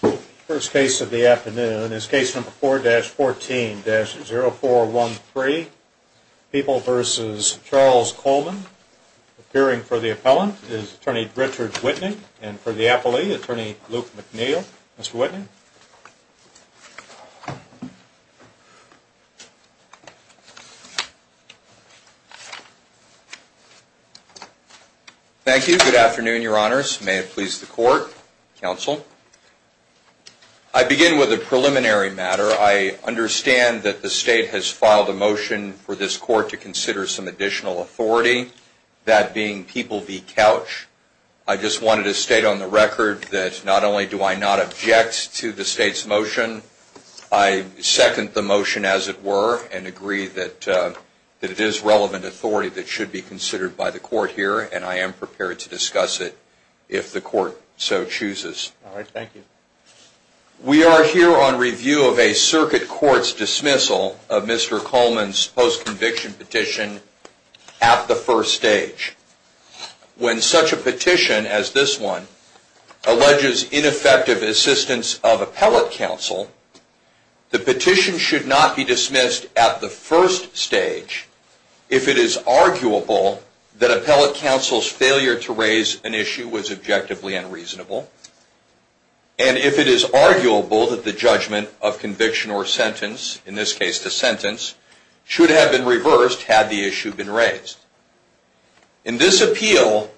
The first case of the afternoon is case number 4-14-0413, People v. Charles Coleman. Appearing for the appellant is Attorney Richard Whitney and for the appellee, Attorney Luke McNeil. Mr. Whitney. Thank you. Good afternoon, your honors. May it please the court, counsel. I begin with a preliminary matter. I understand that the state has filed a motion for this court to consider some additional authority, that being People v. Couch. I just wanted to state on the record that not only do I not object to the state's motion, I second the motion as it were, and agree that it is relevant authority that should be considered by the court here, and I am prepared to discuss it if the court so chooses. We are here on review of a circuit court's dismissal of Mr. Coleman's post-conviction petition at the first stage. When such a petition as this one alleges ineffective assistance of appellate counsel, the petition should not be dismissed at the first stage if it is arguable that appellate counsel's failure to raise an issue was objectively unreasonable, and if it is arguable that the judgment of conviction or sentence, in this case the sentence, should have been reversed had the issue been raised. In this appeal,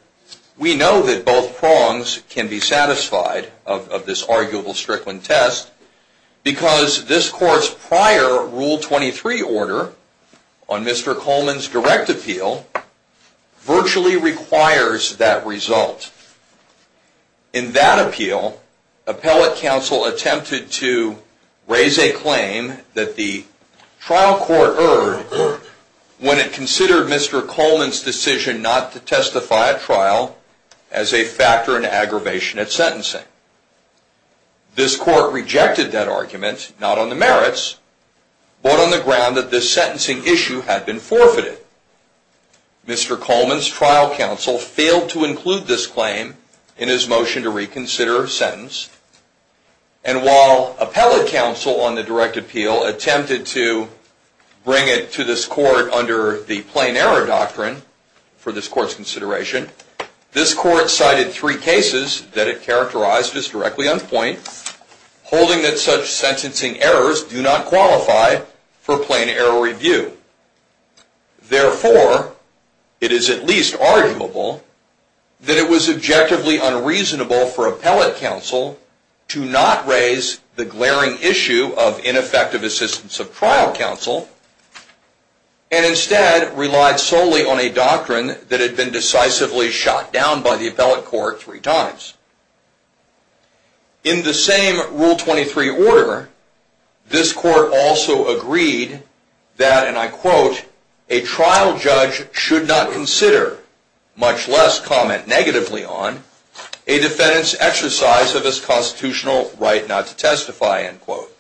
we know that both prongs can be satisfied of this arguable Strickland test, because this court's prior Rule 23 order on Mr. Coleman's direct appeal virtually requires that result. In that appeal, appellate counsel attempted to raise a claim that the trial court erred when it considered Mr. Coleman's decision not to testify at trial as a factor in aggravation at sentencing. This court rejected that argument, not on the merits, but on the ground that this sentencing issue had been forfeited. Mr. Coleman's trial counsel failed to include this claim in his motion to reconsider a sentence, and while appellate counsel on the direct appeal attempted to bring it to this court under the plain error doctrine for this court's consideration, this court cited three cases that it characterized as directly on point, holding that such sentencing errors do not qualify for plain error review. Therefore, it is at least arguable that it was objectively unreasonable for appellate counsel to not raise the glaring issue of ineffective assistance of trial counsel, and instead relied solely on a doctrine that had been decisively shot down by the appellate court three times. In the same Rule 23 order, this court also agreed that, and I quote, a trial judge should not consider, much less comment negatively on, a defendant's exercise of his constitutional right not to testify, end quote.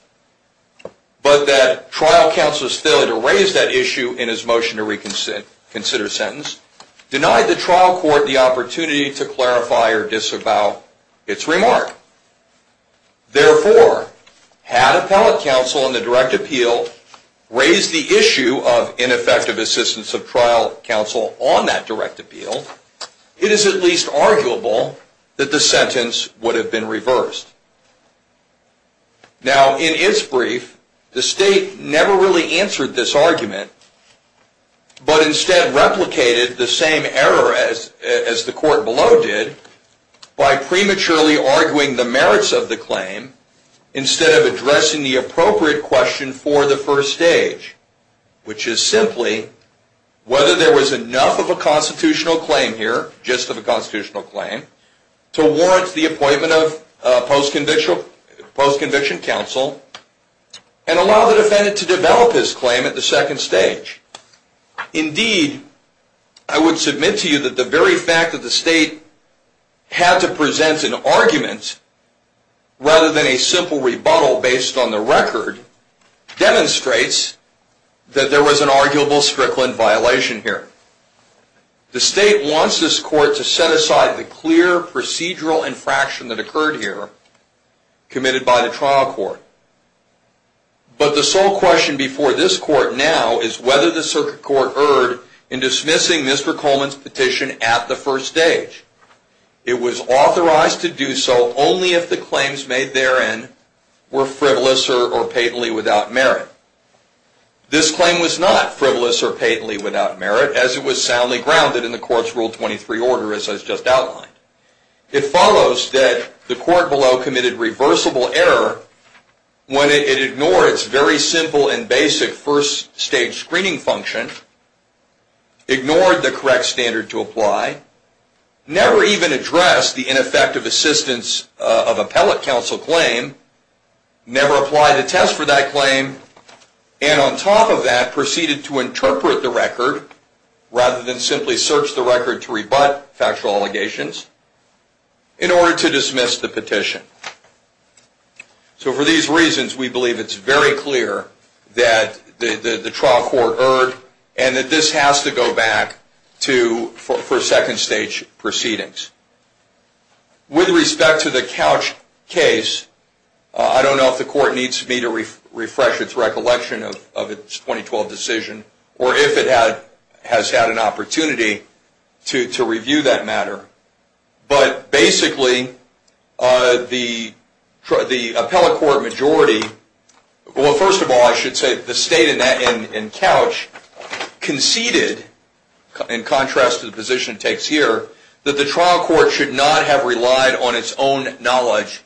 But that trial counsel's failure to raise that issue in his motion to reconsider a sentence denied the trial court the opportunity to clarify or disavow its remark. Therefore, had appellate counsel on the direct appeal raised the issue of ineffective assistance of trial counsel on that direct appeal, it is at least arguable that the sentence would have been reversed. Now, in its brief, the state never really answered this argument, but instead replicated the same error as the court below did by prematurely arguing the merits of the claim instead of addressing the appropriate question for the first stage, which is simply whether there was enough of a constitutional claim here, just of a constitutional claim, to warrant the appointment of post-conviction counsel and allow the defendant to develop his claim at the second stage. Indeed, I would submit to you that the very fact that the state had to present an argument rather than a simple rebuttal based on the record demonstrates that there was an arguable Strickland violation here. The state wants this court to set aside the clear procedural infraction that occurred here committed by the trial court. But the sole question before this court now is whether the circuit court erred in dismissing Mr. Coleman's petition at the first stage. It was authorized to do so only if the claims made therein were frivolous or patently without merit. This claim was not frivolous or patently without merit, as it was soundly grounded in the court's Rule 23 order, as I just outlined. It follows that the court below committed reversible error when it ignored its very simple and basic first stage screening function, ignored the correct standard to apply, never even addressed the ineffective assistance of appellate counsel claim, never applied a test for that claim, and on top of that proceeded to interpret the record rather than simply search the record to rebut factual allegations in order to dismiss the petition. So for these reasons, we believe it's very clear that the trial court erred and that this has to go back for second stage proceedings. With respect to the Couch case, I don't know if the court needs me to refresh its recollection of its 2012 decision or if it has had an opportunity to review that matter. But basically, the appellate court majority, well, first of all, I should say the state in Couch conceded, in contrast to the position it takes here, that the trial court should not have relied on its own knowledge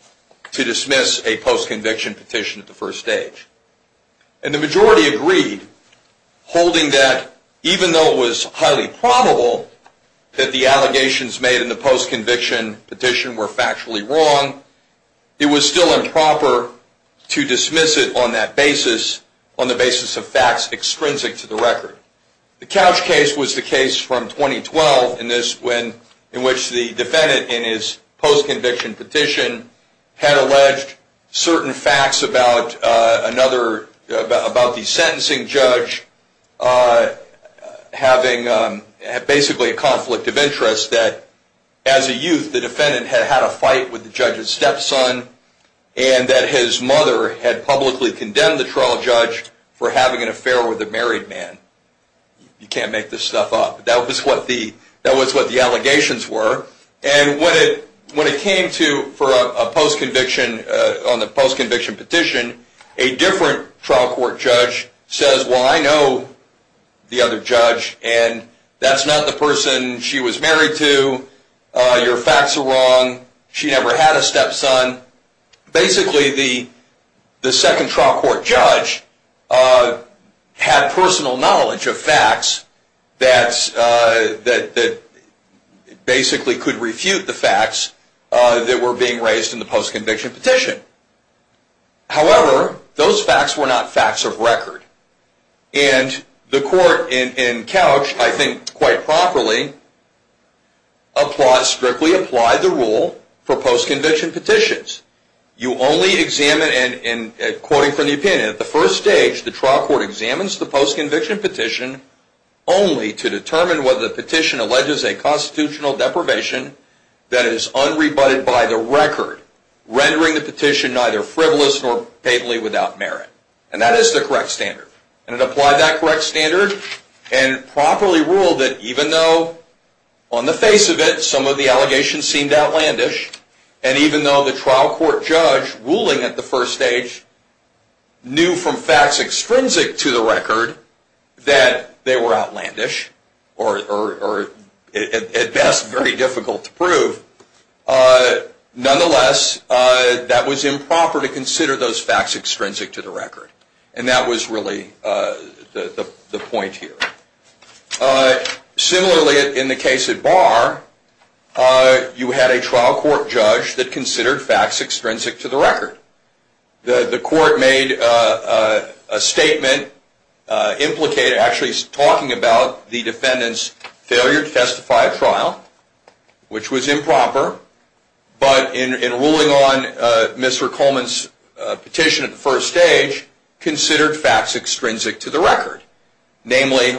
to dismiss a post-conviction petition at the first stage. And the majority agreed, holding that even though it was highly probable that the allegations made in the post-conviction petition were factually wrong, it was still improper to dismiss it on that basis, on the basis of facts extrinsic to the record. The Couch case was the case from 2012 in which the defendant, in his post-conviction petition, had alleged certain facts about the sentencing judge having basically a conflict of interest that, as a youth, the defendant had had a fight with the judge's stepson and that his mother had publicly condemned the trial judge for having an affair with a married man. You can't make this stuff up. That was what the allegations were. And when it came to, for a post-conviction, on the post-conviction petition, a different trial court judge says, well, I know the other judge and that's not the person she was married to. Your facts are wrong. She never had a stepson. Basically, the second trial court judge had personal knowledge of facts that basically could refute the facts that were being raised in the post-conviction petition. However, those facts were not facts of record. And the court in Couch, I think quite properly, strictly applied the rule for post-conviction petitions. You only examine, and quoting from the opinion, at the first stage, the trial court examines the post-conviction petition only to determine whether the petition alleges a constitutional deprivation that is unrebutted by the record, rendering the petition neither frivolous nor patently without merit. And that is the correct standard. And it applied that correct standard and properly ruled that even though, on the face of it, some of the allegations seemed outlandish, and even though the trial court judge, ruling at the first stage, knew from facts extrinsic to the record that they were outlandish, or at best very difficult to prove, nonetheless, that was improper to consider those facts extrinsic to the record. And that was really the point here. Similarly, in the case at Barr, you had a trial court judge that considered facts extrinsic to the record. The court made a statement implicated, actually talking about the defendant's failure to testify at trial, which was improper, but in ruling on Mr. Coleman's petition at the first stage, considered facts extrinsic to the record. Namely,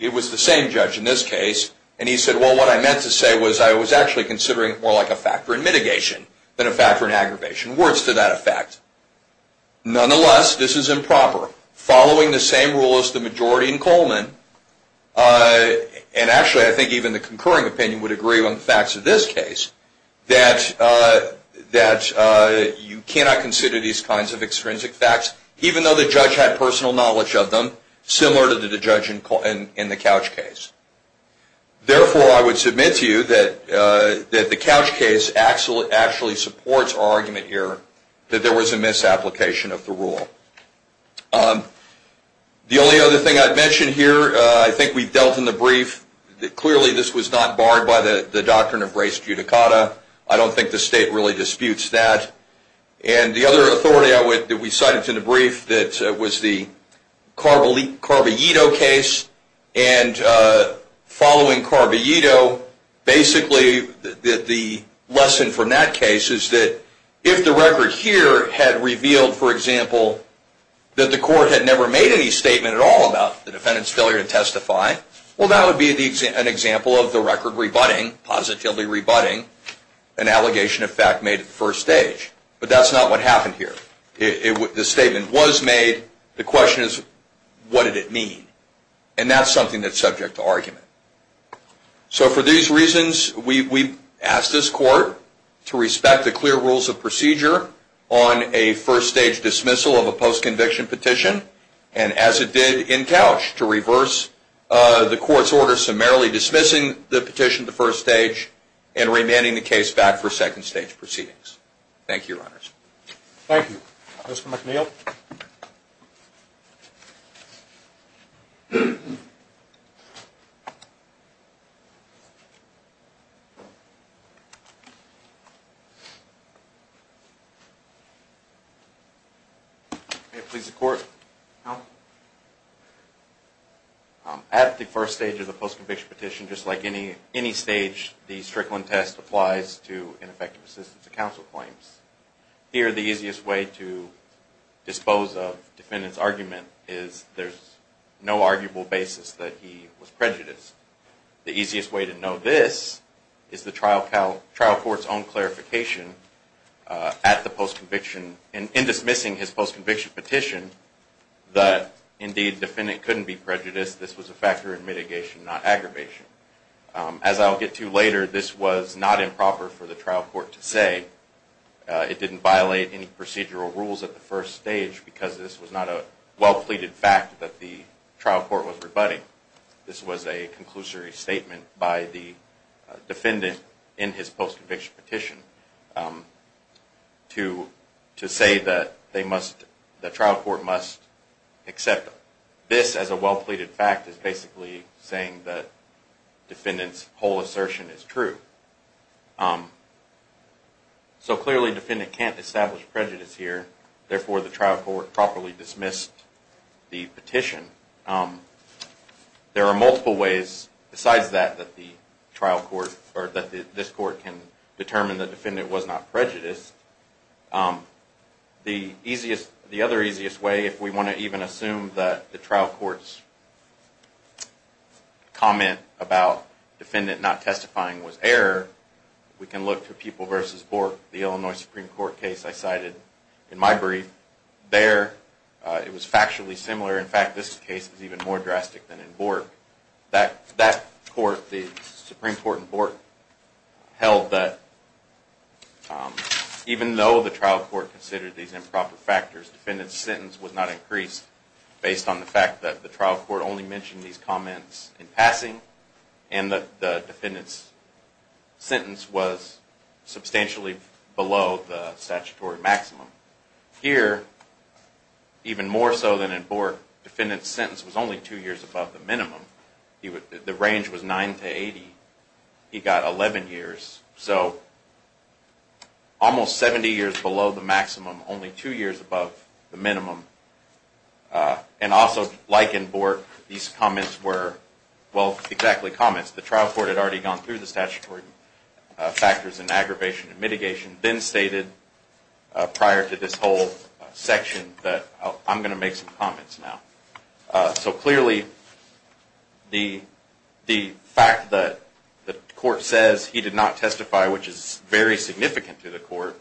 it was the same judge in this case, and he said, well, what I meant to say was I was actually considering it more like a factor in mitigation than a factor in aggravation, words to that effect. Nonetheless, this is improper. Following the same rule as the majority in Coleman, and actually I think even the concurring opinion would agree on the facts of this case, that you cannot consider these kinds of extrinsic facts, even though the judge had personal knowledge of them, similar to the judge in the Couch case. Therefore, I would submit to you that the Couch case actually supports our argument here that there was a misapplication of the rule. The only other thing I'd mention here, I think we've dealt in the brief, that clearly this was not barred by the doctrine of res judicata. I don't think the state really disputes that. And the other authority that we cited in the brief that was the Carballito case, and following Carballito, basically the lesson from that case is that if the record here had revealed, for example, that the court had never made any statement at all about the defendant's failure to testify, well, that would be an example of the record rebutting, positively rebutting, an allegation of fact made at the first stage. But that's not what happened here. The statement was made. The question is, what did it mean? And that's something that's subject to argument. So for these reasons, we ask this court to respect the clear rules of procedure on a first stage dismissal of a post-conviction petition, and as it did in Couch, to reverse the court's order, summarily dismissing the petition at the first stage Thank you, Your Honors. Thank you. Mr. McNeil. May it please the Court. At the first stage of the post-conviction petition, just like any stage, the Strickland test applies to ineffective assistance of counsel claims. Here, the easiest way to dispose of defendant's argument is there's no arguable basis that he was prejudiced. The easiest way to know this is the trial court's own clarification at the post-conviction, in dismissing his post-conviction petition, that indeed, defendant couldn't be prejudiced. This was a factor in mitigation, not aggravation. As I'll get to later, this was not improper for the trial court to say. It didn't violate any procedural rules at the first stage, because this was not a well-pleaded fact that the trial court was rebutting. This was a conclusory statement by the defendant in his post-conviction petition to say that the trial court must accept this as a well-pleaded fact, is basically saying that defendant's whole assertion is true. So clearly, defendant can't establish prejudice here. Therefore, the trial court properly dismissed the petition. There are multiple ways, besides that, that this court can determine the defendant was not prejudiced. The other easiest way, if we want to even assume that the trial court's comment about defendant not testifying was error, we can look to People v. Bork, the Illinois Supreme Court case I cited in my brief. There, it was factually similar. In fact, this case is even more drastic than in Bork. That court, the Supreme Court in Bork, held that even though the trial court considered these improper factors, defendant's sentence was not increased based on the fact that the trial court only mentioned these comments in passing, and that the defendant's sentence was substantially below the statutory maximum. Here, even more so than in Bork, defendant's sentence was only two years above the minimum. The range was 9 to 80. He got 11 years. So, almost 70 years below the maximum, only two years above the minimum. And also, like in Bork, these comments were, well, exactly comments. The trial court had already gone through the statutory factors in aggravation and mitigation, then stated prior to this whole section that I'm going to make some comments now. So clearly, the fact that the court says he did not testify, which is very significant to the court,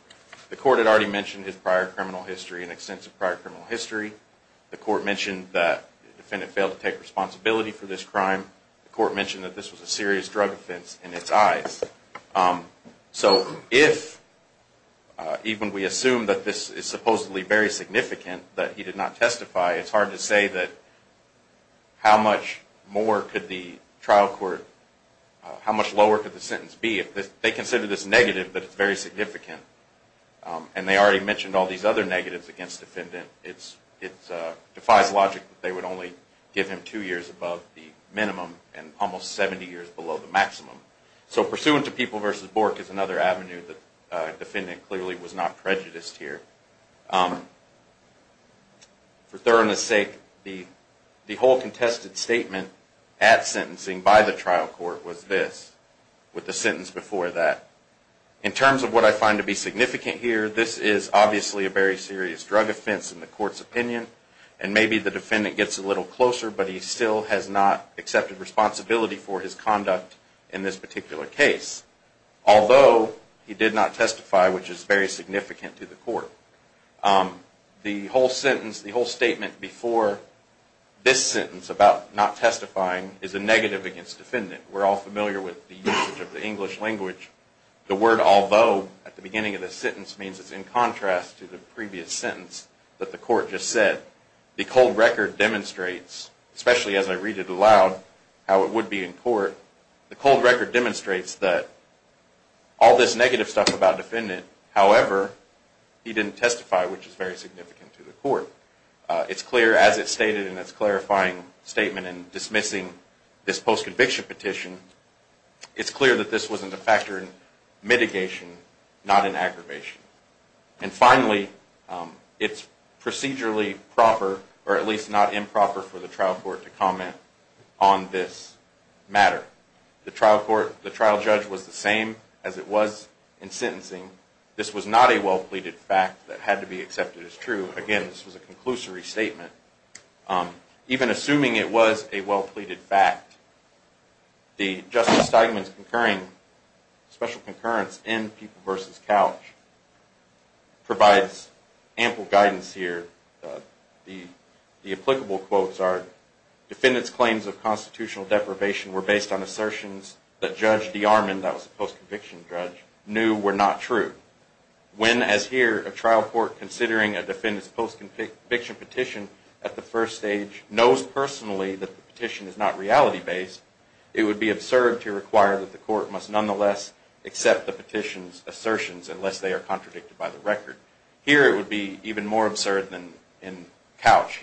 the court had already mentioned his prior criminal history, an extensive prior criminal history. The court mentioned that the defendant failed to take responsibility for this crime. The court mentioned that this was a serious drug offense in its eyes. So, if even we assume that this is supposedly very significant, that he did not testify, it's hard to say that how much more could the trial court, how much lower could the sentence be? They consider this negative, but it's very significant. And they already mentioned all these other negatives against the defendant. It defies logic that they would only give him two years above the minimum and almost 70 years below the maximum. So, pursuant to People v. Bork is another avenue that the defendant clearly was not prejudiced here. For thoroughness sake, the whole contested statement at sentencing by the trial court was this, with the sentence before that. In terms of what I find to be significant here, this is obviously a very serious drug offense in the court's opinion. And maybe the defendant gets a little closer, but he still has not accepted responsibility for his conduct in this particular case. Although, he did not testify, which is very significant to the court. The whole sentence, the whole statement before this sentence about not testifying is a negative against the defendant. We're all familiar with the usage of the English language. The word although at the beginning of the sentence means it's in contrast to the previous sentence that the court just said. The cold record demonstrates, especially as I read it aloud, how it would be in court. The cold record demonstrates that all this negative stuff about the defendant, however, he didn't testify, which is very significant to the court. It's clear as it's stated in its clarifying statement in dismissing this post-conviction petition, it's clear that this was a factor in mitigation, not an aggravation. And finally, it's procedurally proper, or at least not improper for the trial court to comment on this matter. The trial court, the trial judge was the same as it was in sentencing. This was not a well-pleaded fact that had to be accepted as true. Again, this was a conclusory statement. Even assuming it was a well-pleaded fact, the Justice Steigman's special concurrence in People v. Couch provides ample guidance here. The applicable quotes are, Defendant's claims of constitutional deprivation were based on assertions that Judge DeArmond, that was a post-conviction judge, knew were not true. When, as here, a trial court considering a defendant's post-conviction petition at the first stage knows personally that the petition is not reality-based, it would be absurd to require that the court must nonetheless accept the petition's assertions unless they are contradicted by the record. Here it would be even more absurd than in Couch.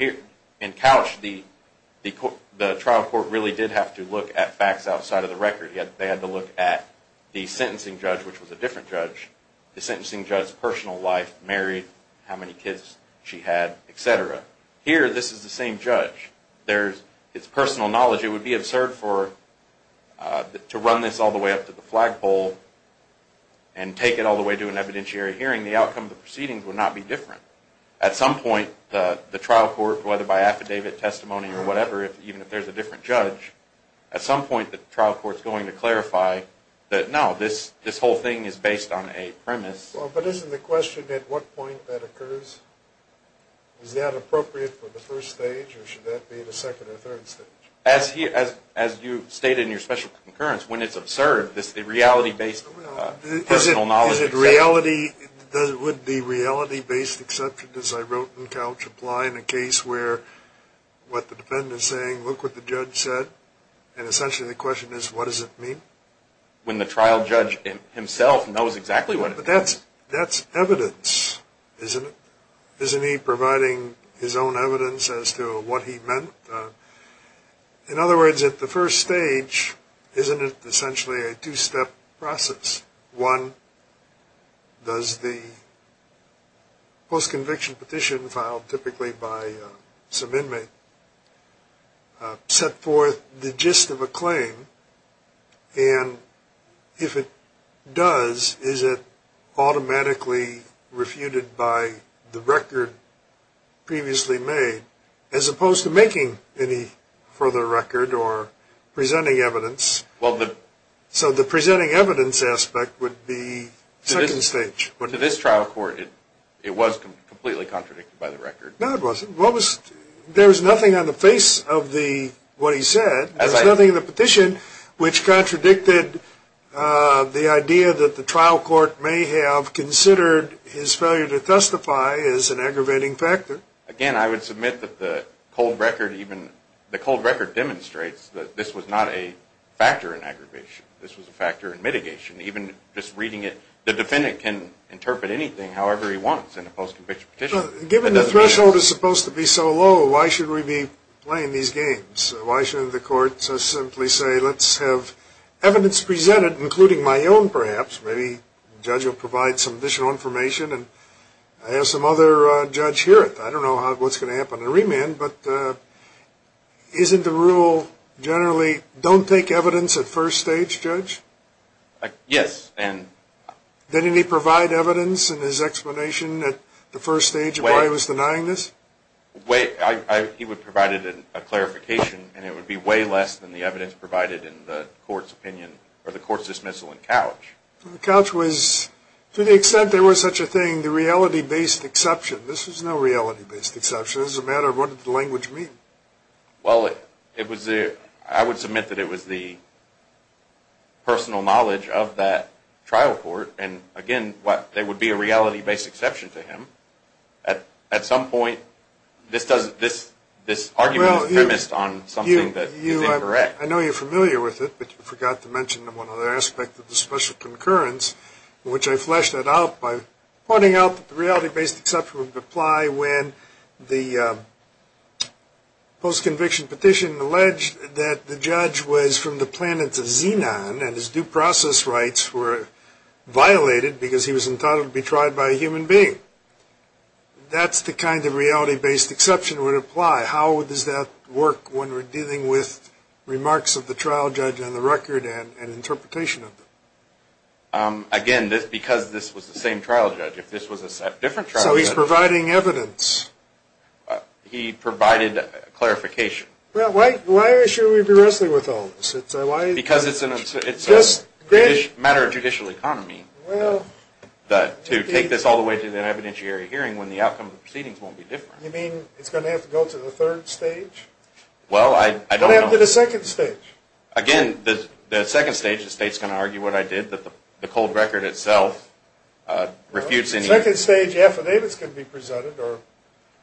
In Couch, the trial court really did have to look at facts outside of the record. They had to look at the sentencing judge, which was a different judge, the sentencing judge's personal life, married, how many kids she had, etc. Here, this is the same judge. It's personal knowledge. It would be absurd to run this all the way up to the flagpole and take it all the way to an evidentiary hearing. The outcome of the proceedings would not be different. At some point, the trial court, whether by affidavit, testimony, or whatever, even if there's a different judge, at some point the trial court's going to clarify that, no, this whole thing is based on a premise. But isn't the question at what point that occurs? Is that appropriate for the first stage, or should that be the second or third stage? As you state in your special concurrence, when it's absurd, the reality-based personal knowledge... Would the reality-based exception, as I wrote in Couch, apply in a case where what the defendant is saying, look what the judge said, and essentially the question is, what does it mean? When the trial judge himself knows exactly what it means. But that's evidence, isn't it? Isn't he providing his own evidence as to what he meant? In other words, at the first stage, isn't it essentially a two-step process? One, does the post-conviction petition filed typically by some inmate set forth the gist of a claim, and if it does, is it automatically refuted by the record previously made, as opposed to making any further record or presenting evidence? So the presenting evidence aspect would be second stage. To this trial court, it was completely contradicted by the record. No, it wasn't. There was nothing on the face of what he said. There was nothing in the petition which contradicted the idea that the trial court may have considered his failure to testify as an aggravating factor. Again, I would submit that the cold record demonstrates that this was not a factor in aggravation. This was a factor in mitigation. Even just reading it, the defendant can interpret anything however he wants in a post-conviction petition. Given the threshold is supposed to be so low, why should we be playing these games? Why shouldn't the court simply say, let's have evidence presented, including my own perhaps. Maybe the judge will provide some additional information. I have some other judge here. I don't know what's going to happen in remand, but isn't the rule generally, don't take evidence at first stage, Judge? Yes. Didn't he provide evidence in his explanation at the first stage of why he was denying this? He provided a clarification, and it would be way less than the evidence provided in the court's opinion, or the court's dismissal in Couch. Couch was, to the extent there was such a thing, the reality-based exception. This was no reality-based exception. It was a matter of what did the language mean? Well, I would submit that it was the personal knowledge of that trial court. Again, there would be a reality-based exception to him. At some point, this argument is premised on something that is incorrect. I know you're familiar with it, but you forgot to mention one other aspect of the special concurrence, which I fleshed out by pointing out that the reality-based exception would apply when the post-conviction petition alleged that the judge was from the planet Xenon, and his due process rights were violated because he was entitled to be tried by a human being. That's the kind of reality-based exception that would apply. How does that work when we're dealing with remarks of the trial judge on the record and interpretation of them? Again, because this was the same trial judge, if this was a different trial judge… So he's providing evidence. He provided clarification. Well, why should we be wrestling with all this? Because it's a matter of judicial economy. Well… To take this all the way to an evidentiary hearing when the outcome of the proceedings won't be different. You mean it's going to have to go to the third stage? Well, I don't know. It's going to have to go to the second stage. Again, the second stage, the state's going to argue what I did, that the cold record itself refutes any… The second stage affidavits could be presented, or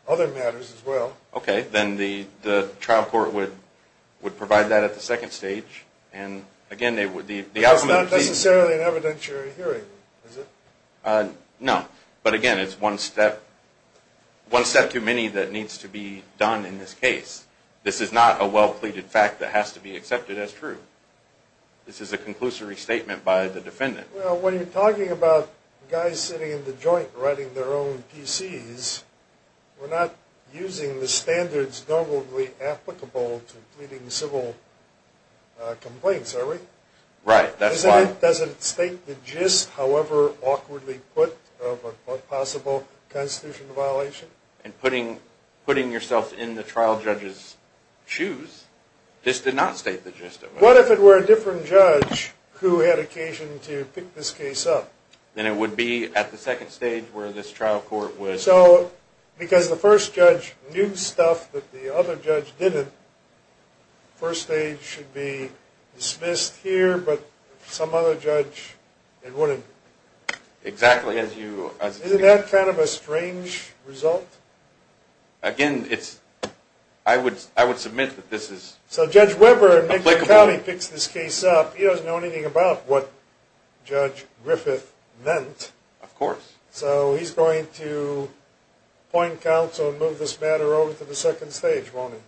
other matters as well. Okay, then the trial court would provide that at the second stage, and again, the outcome of the proceedings… It's not necessarily an evidentiary hearing, is it? No. But again, it's one step too many that needs to be done in this case. This is not a well-pleaded fact that has to be accepted as true. This is a conclusory statement by the defendant. Well, when you're talking about guys sitting in the joint writing their own PCs, we're not using the standards normally applicable to pleading civil complaints, are we? Right. Doesn't it state the gist, however awkwardly put, of a possible constitutional violation? And putting yourself in the trial judge's shoes, this did not state the gist of it. What if it were a different judge who had occasion to pick this case up? Then it would be at the second stage where this trial court would… So, because the first judge knew stuff that the other judge didn't, the first stage should be dismissed here, but some other judge, it wouldn't. Exactly. Isn't that kind of a strange result? Again, I would submit that this is applicable. So Judge Weber, in McLean County, picks this case up. He doesn't know anything about what Judge Griffith meant. Of course. So he's going to appoint counsel and move this matter over to the second stage, won't he?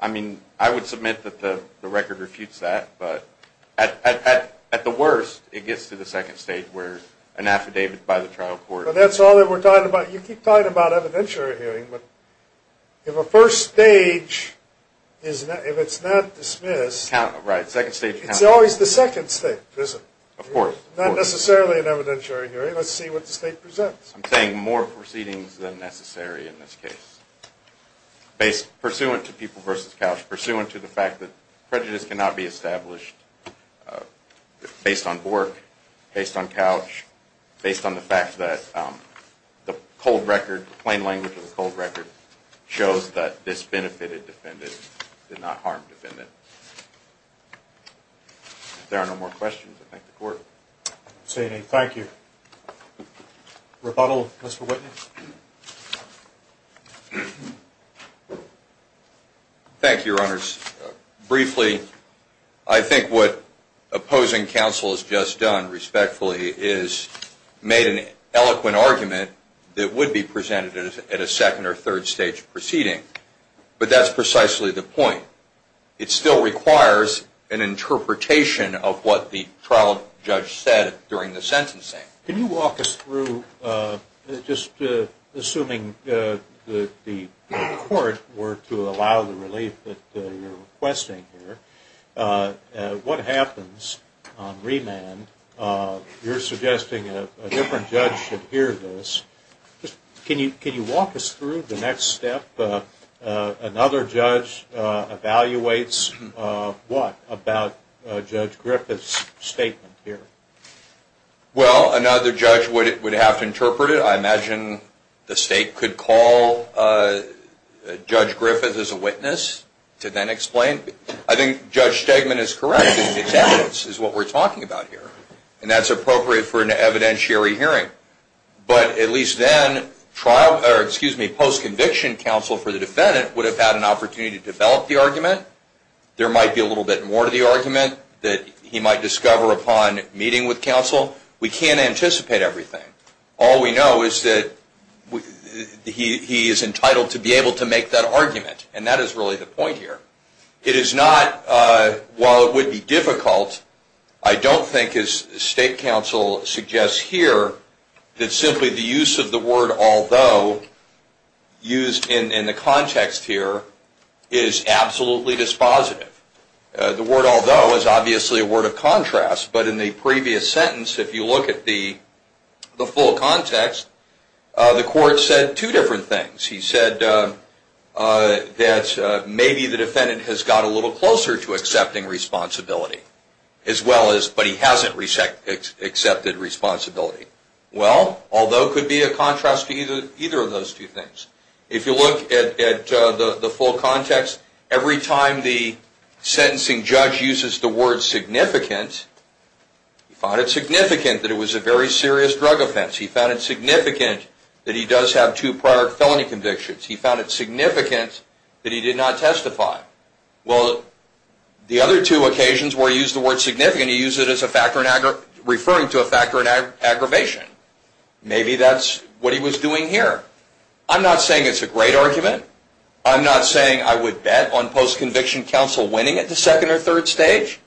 I mean, I would submit that the record refutes that, but at the worst it gets to the second stage where an affidavit by the trial court… But that's all that we're talking about. You keep talking about evidentiary hearing, but if a first stage, if it's not dismissed… Right, second stage… It's always the second stage, is it? Of course. Not necessarily an evidentiary hearing. Let's see what the state presents. I'm saying more proceedings than necessary in this case. Pursuant to people versus couch, pursuant to the fact that prejudice cannot be established based on Bork, based on couch, based on the fact that the cold record, plain language of the cold record, shows that this benefited defendant, did not harm defendant. If there are no more questions, I thank the court. Say any. Thank you. Rebuttal, Mr. Whitney. Thank you, Your Honors. Briefly, I think what opposing counsel has just done, respectfully, is made an eloquent argument that would be presented at a second or third stage proceeding, but that's precisely the point. It still requires an interpretation of what the trial judge said during the sentencing. Can you walk us through, just assuming the court were to allow the relief that you're requesting here, what happens on remand? You're suggesting a different judge should hear this. Can you walk us through the next step? Another judge evaluates what about Judge Griffith's statement here? Well, another judge would have to interpret it. I imagine the state could call Judge Griffith as a witness to then explain. I think Judge Stegman is correct in his evidence is what we're talking about here, and that's appropriate for an evidentiary hearing. But at least then post-conviction counsel for the defendant would have had an opportunity to develop the argument. There might be a little bit more to the argument that he might discover upon meeting with counsel. We can't anticipate everything. All we know is that he is entitled to be able to make that argument, and that is really the point here. It is not, while it would be difficult, I don't think as state counsel suggests here, that simply the use of the word although used in the context here is absolutely dispositive. The word although is obviously a word of contrast, but in the previous sentence, if you look at the full context, the court said two different things. He said that maybe the defendant has got a little closer to accepting responsibility, but he hasn't accepted responsibility. Well, although could be a contrast to either of those two things. If you look at the full context, every time the sentencing judge uses the word significant, he found it significant that it was a very serious drug offense. He found it significant that he does have two prior felony convictions. He found it significant that he did not testify. Well, the other two occasions where he used the word significant, he used it referring to a factor in aggravation. Maybe that's what he was doing here. I'm not saying it's a great argument. I'm not saying I would bet on post-conviction counsel winning at the second or third stage,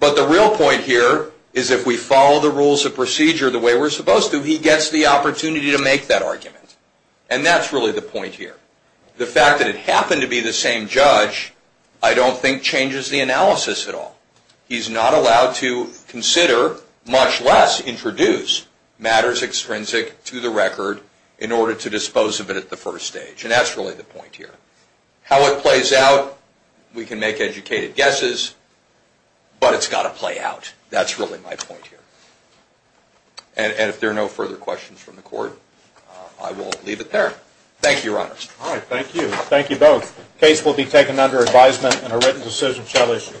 but the real point here is if we follow the rules of procedure the way we're supposed to, he gets the opportunity to make that argument, and that's really the point here. The fact that it happened to be the same judge I don't think changes the analysis at all. He's not allowed to consider, much less introduce, matters extrinsic to the record in order to dispose of it at the first stage, and that's really the point here. How it plays out, we can make educated guesses, but it's got to play out. That's really my point here. And if there are no further questions from the court, I will leave it there. Thank you, Your Honor. All right, thank you. Thank you both. The case will be taken under advisement and a written decision shall issue.